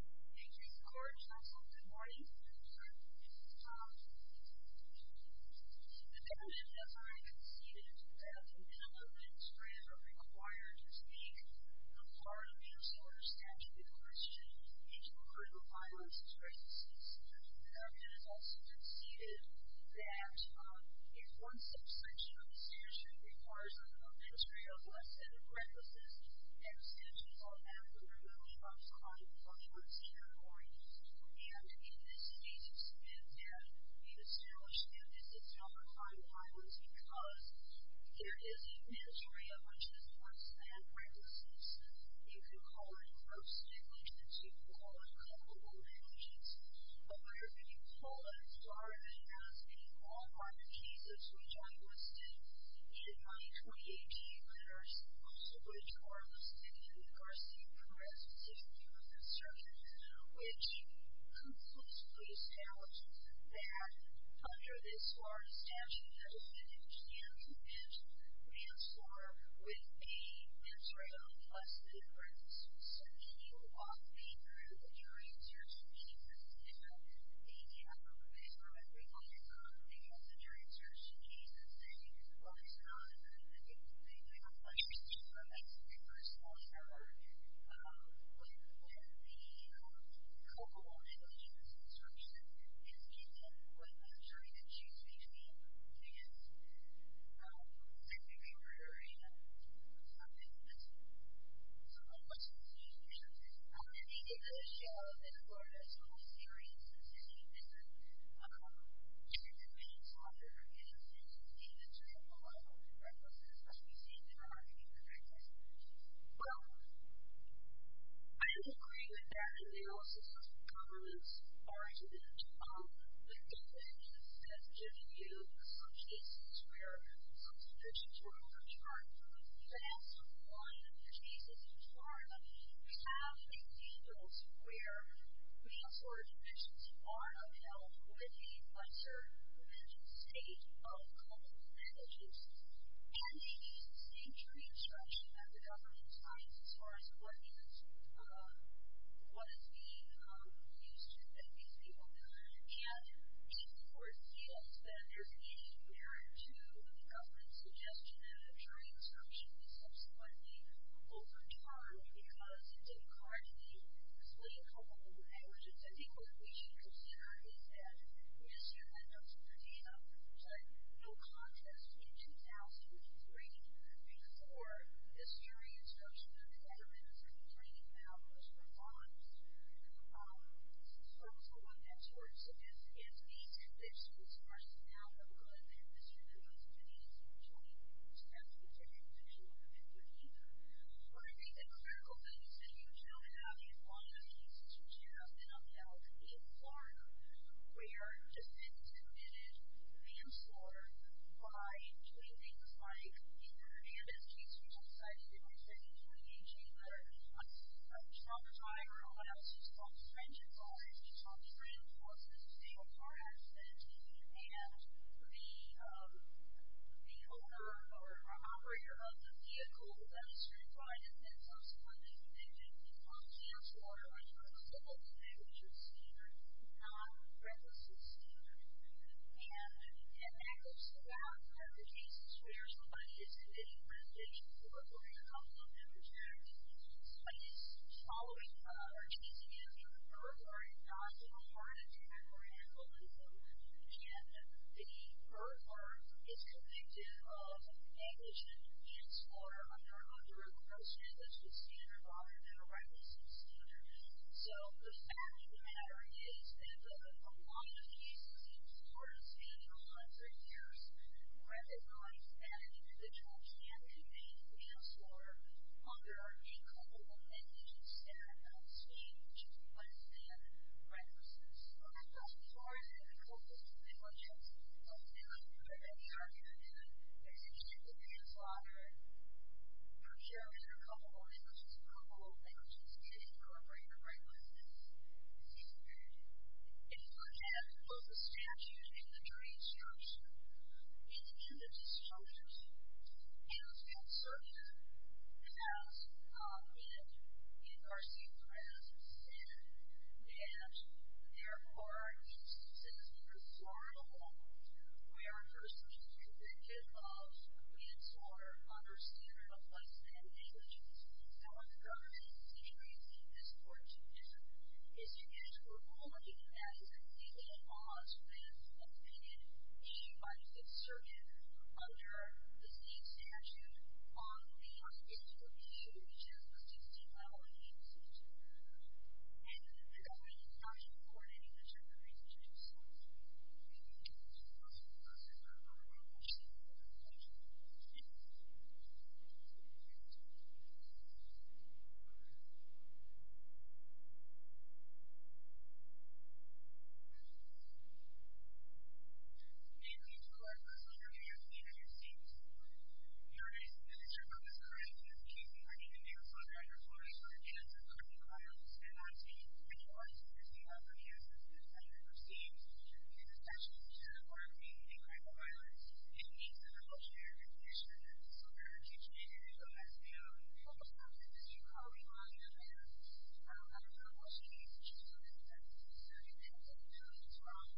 Thank you, Mr. Corrigan. Also, good morning. Mr. Corrigan has already conceded that the minimum ministry ever required to speak a part of any sort of statute of limitations in regard to violence and circumstances. He has also conceded that if one subsection of the statute requires a minimum ministry of less than a parenthesis, an extension of that would remove him from his category. And, in this case, it's been said that the established unit does not require violence because there is a ministry of much less than a parenthesis. You can call it gross negligence. You can call it comparable negligence. But what you're being told, Mr. Corrigan, has been all parenthesis, which I listed in my 2018 letters, also which are listed in the first-in-progress Statute of the U.S. Constitution, which conclusively establishes that, under this large statute, the defendant can commit manslaughter with the constraint of less than a parenthesis. So, then you walk me through the jury search cases. You know, the, I don't know if it's for everybody, but they have the jury search cases. They, well, there's not, I mean, they do have a bunch of cases, but that's the first one I heard. But, then, the comparable negligence instruction is given when the jury then chooses between sex offender, murderer, and homicide. And that's, there's a whole bunch of these unique instructions. I don't have any data to show that, as far as how serious this is, any defendant should commit manslaughter in a sense, even to the level of a parenthesis, unless you see that there are any parenthesis provisions. Well, I disagree with that. And there are also sorts of common-sense arguments. The defendant has given you some cases where some substitutions were overcharged. But, as to one of the cases in Florida, we have examples where manslaughter convictions are upheld with the lesser-than-just state of common-sense negligence. And the same jury instruction that the government decides, as far as what is being used to convict these people. And, of course, yes, that there's an issue there, too. The government's suggestion that a jury instruction be subsequently overcharged because it didn't quite meet the political and negligence indicators we should consider is that we assume that those are the data. But, no contest, in 2003, before this jury instruction, the government was complaining about most of the fines. So, it's the one that's worse. If these convictions are now overlooked, then this jury instruction may seem to be a step in the direction that you would be looking for. But, I think the critical thing is that you don't have these liabilities to just upheld in Florida where defendants have been manslaughtered by doing things like murdering an SGC outside of the United States in 2018, or a shopper driver, or what else he's called, stranger cars. He's called the Freedom Forces to take a car accident. And the owner or operator of the vehicle that he's trying to find and then subsequently convicted of manslaughter is a civil negligence standard, not a recklessness standard. And, and that goes to that part of the case where somebody is committing misdemeanor or a criminal negligence. But, it's following, or chasing after a murderer, not to report an attack or an assault, and the murderer is convicted of negligence, manslaughter under a procedure that's just standard, rather than a recklessness standard. So, the fact of the matter is that a lot of cases in Florida spanning a hundred years recognize that the judge can't convict manslaughter under a code of mandates that are not seen to be less than recklessness. So, the fact that Florida has a code of negligence doesn't really permit any argument that there's any chance of manslaughter under a code of mandates, a code of mandates that incorporate a recklessness standard. If you look at both the statute and the jury instruction, in the judge's judgment, Hale's Fifth Circuit has, in, in our state press, said that, therefore, these citizens of Florida were personally convicted of manslaughter under a standard of less than negligence. Now, what the government and the state are using this court to do is to get it to a ruling that is completely in-laws with Hale's Fifth Circuit, under the state statute, on behalf of Hale's Fifth Circuit, which has a 16-mile-an-inch, 16-foot-wide court. And the government is not supporting this type of procedure. So, if you look at this court's process, I don't know why we're seeing that kind of judgment. Thank you. May it please the court, the defendant is being interceded. Your Honor, the dissertation of this crime is a case in which the name of the father of your son, Michael Hale, has been on scene. When you are interceding on the basis of this crime, you are interceding with the intention of being a crime of violence. It meets an evolutionary condition. So, there are two changes. The first one is that you call him on the offense. I don't know how well she interceded on this offense. So, you can't say, no, it's wrong.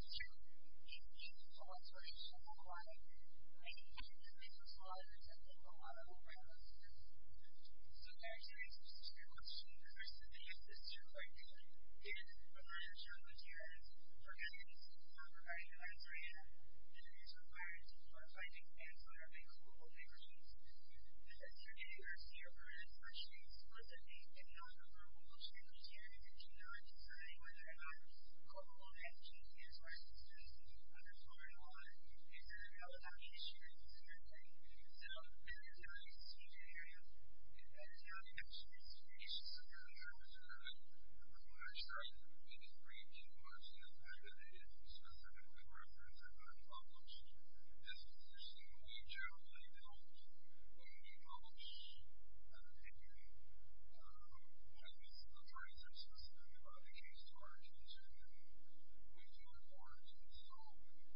It's true. It meets the law, so it's not a crime. And the second thing is that there's a lot of intent and a lot of violence in this case. So, there's your answer to your question. The answer is yes, it's true. Thank you. Your Honor, in the murder charge materials, your evidence does not provide an answer yet. The evidence requires a clarifying answer of a court-ruled intercede. The interceding or serial murder intercedes was a hate and non-verbal intercede in which you are not discerning whether or not a court-ruled intercede is or is not discerning. I'm just wondering why. Is there a relatability issue in this interceding? So, there are two ways to intercede. There's not an interceding situation. Mr. Kennedy, I'm sorry. It is brief. Can you comment on the fact that the interceding will be referenced and not published? This interceding will be generally held when it is published at an interview. What I mean is that the attorneys are specific about the case to our attention and we do our part. And so,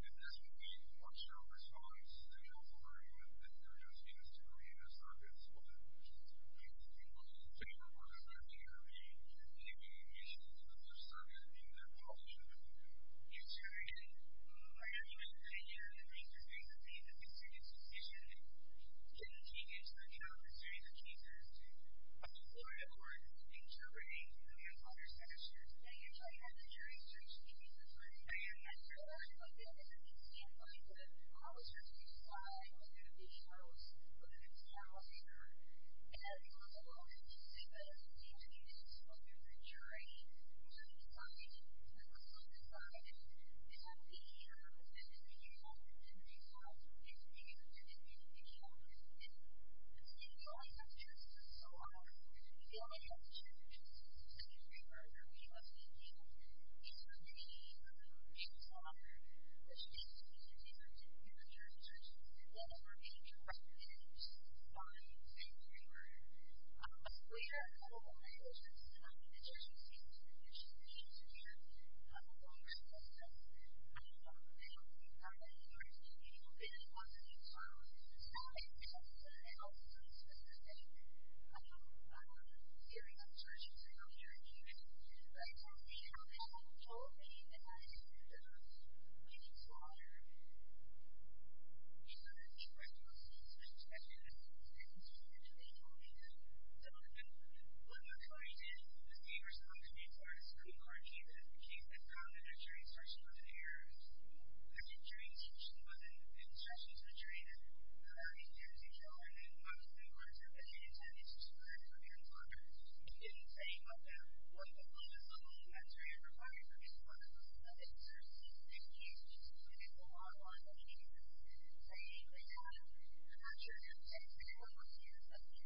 if this would be much your response, then you also agree that the interceding is to create a circuit split between both parties. So, you don't want us looking at the interceding issues as a circuit in their publishing. Yes, Your Honor. In my argument, the interceding is a serious decision and Kennedy is trying to have a serious case as to whether or not the court is interpreting the interceder's interceding. So, you're interceding for him? I am interceding for him. So, I understand that from the standpoint of the publisher to decide whether or not he shows a good example here. And, I don't know if this is safe, but as an interviewee, this is supposed to be a good jury to decide what's on the side. And, it's not me, I'm representing the jury and the judge and the interviewer and the interviewee and I'm representing the jury. So, you only have two choices, Your Honor. You only have two choices. The second three are where we must be in terms of the interceder, the case, the interceding, and the jury's decision. And, that is where we must be in terms of the interceder. Fine. Thank you, Your Honor. We are at a moment in which this is not an interceding season in which the interceder has a longer sentence. And, I don't know how many jurors may be able to answer these questions. So, I'm going to ask a very specific series of jurors who are not here in the audience to tell me how they have told me that I should leave this law here. Your Honor, the question I'm asking is a very specific one. And, I'm going to ask And, I'm going to ask a very specific one. What McClary did was he responded to me by describing the argument that the case had come to the jury's decision with an error. The jury's decision was that the intercession to the jury was a very serious error. And, what McClary did was he intended to discredit the jury in his argument. He didn't say what the limit level in that jury required for this law to be met. And, certainly, in this case, it's a lot more than he needed to say. And, he did not discredit the jury in his argument that the jury was a very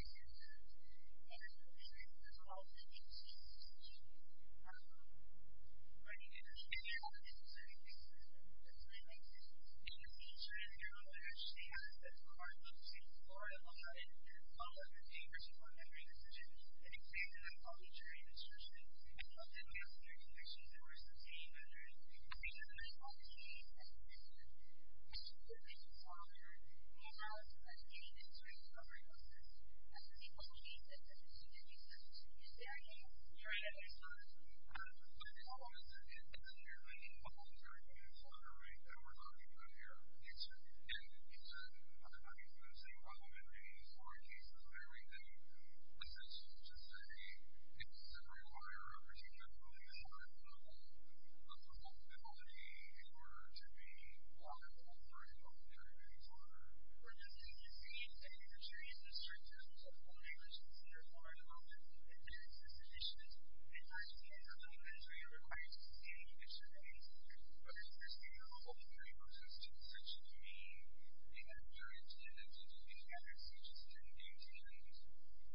serious error. And, there's a lot of things that he needs to say in this case. Your Honor. I didn't understand your argument specifically, but I'm going to say it makes sense. In the future, Your Honor, I understand that the court looks to Florida Law and all of the papers before the memory decision and it claims that I've published your indiscretion. I don't think that's an indiscretion that we're sustaining under any condition that I've published any indiscretion. I just think that this is longer than any indiscretion covering of this. And, the people who need this indiscretion is necessary. Your Honor. I just want to say that it's not necessarily an indiscretion that's longer than we're talking about here in the future. In the future, I'm not even going to say what will be the foreign cases of every day as I should just say it's a requirement of receiving the ruling in order for the law to be in order to be law and order in order to be in order. We're just going to continue to say that your jury is indiscreet in terms of the language that's required about it and various distributions. And, I understand that the judiciary requires indiscretion and indiscretion but I understand that all the jury looks to indiscretion to mean the injury to the indigent in the accuracy to the indigent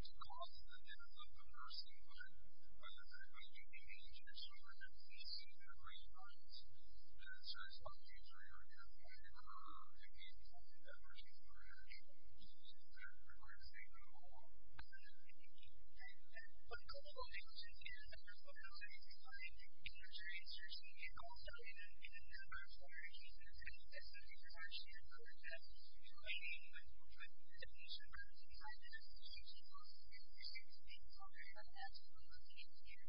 to cause the death of the first inmate by the injection where the deceased had a brain heart and so it's not a jury requirement or any substantive effort that requires a ruling at all. One couple of other questions here and there's one other that I think is really interesting and also in the charge that our agency has put behind this issue is that there seems to be some kind of absence from the case here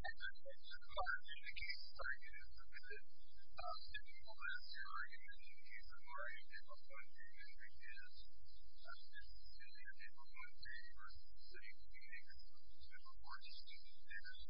that is based on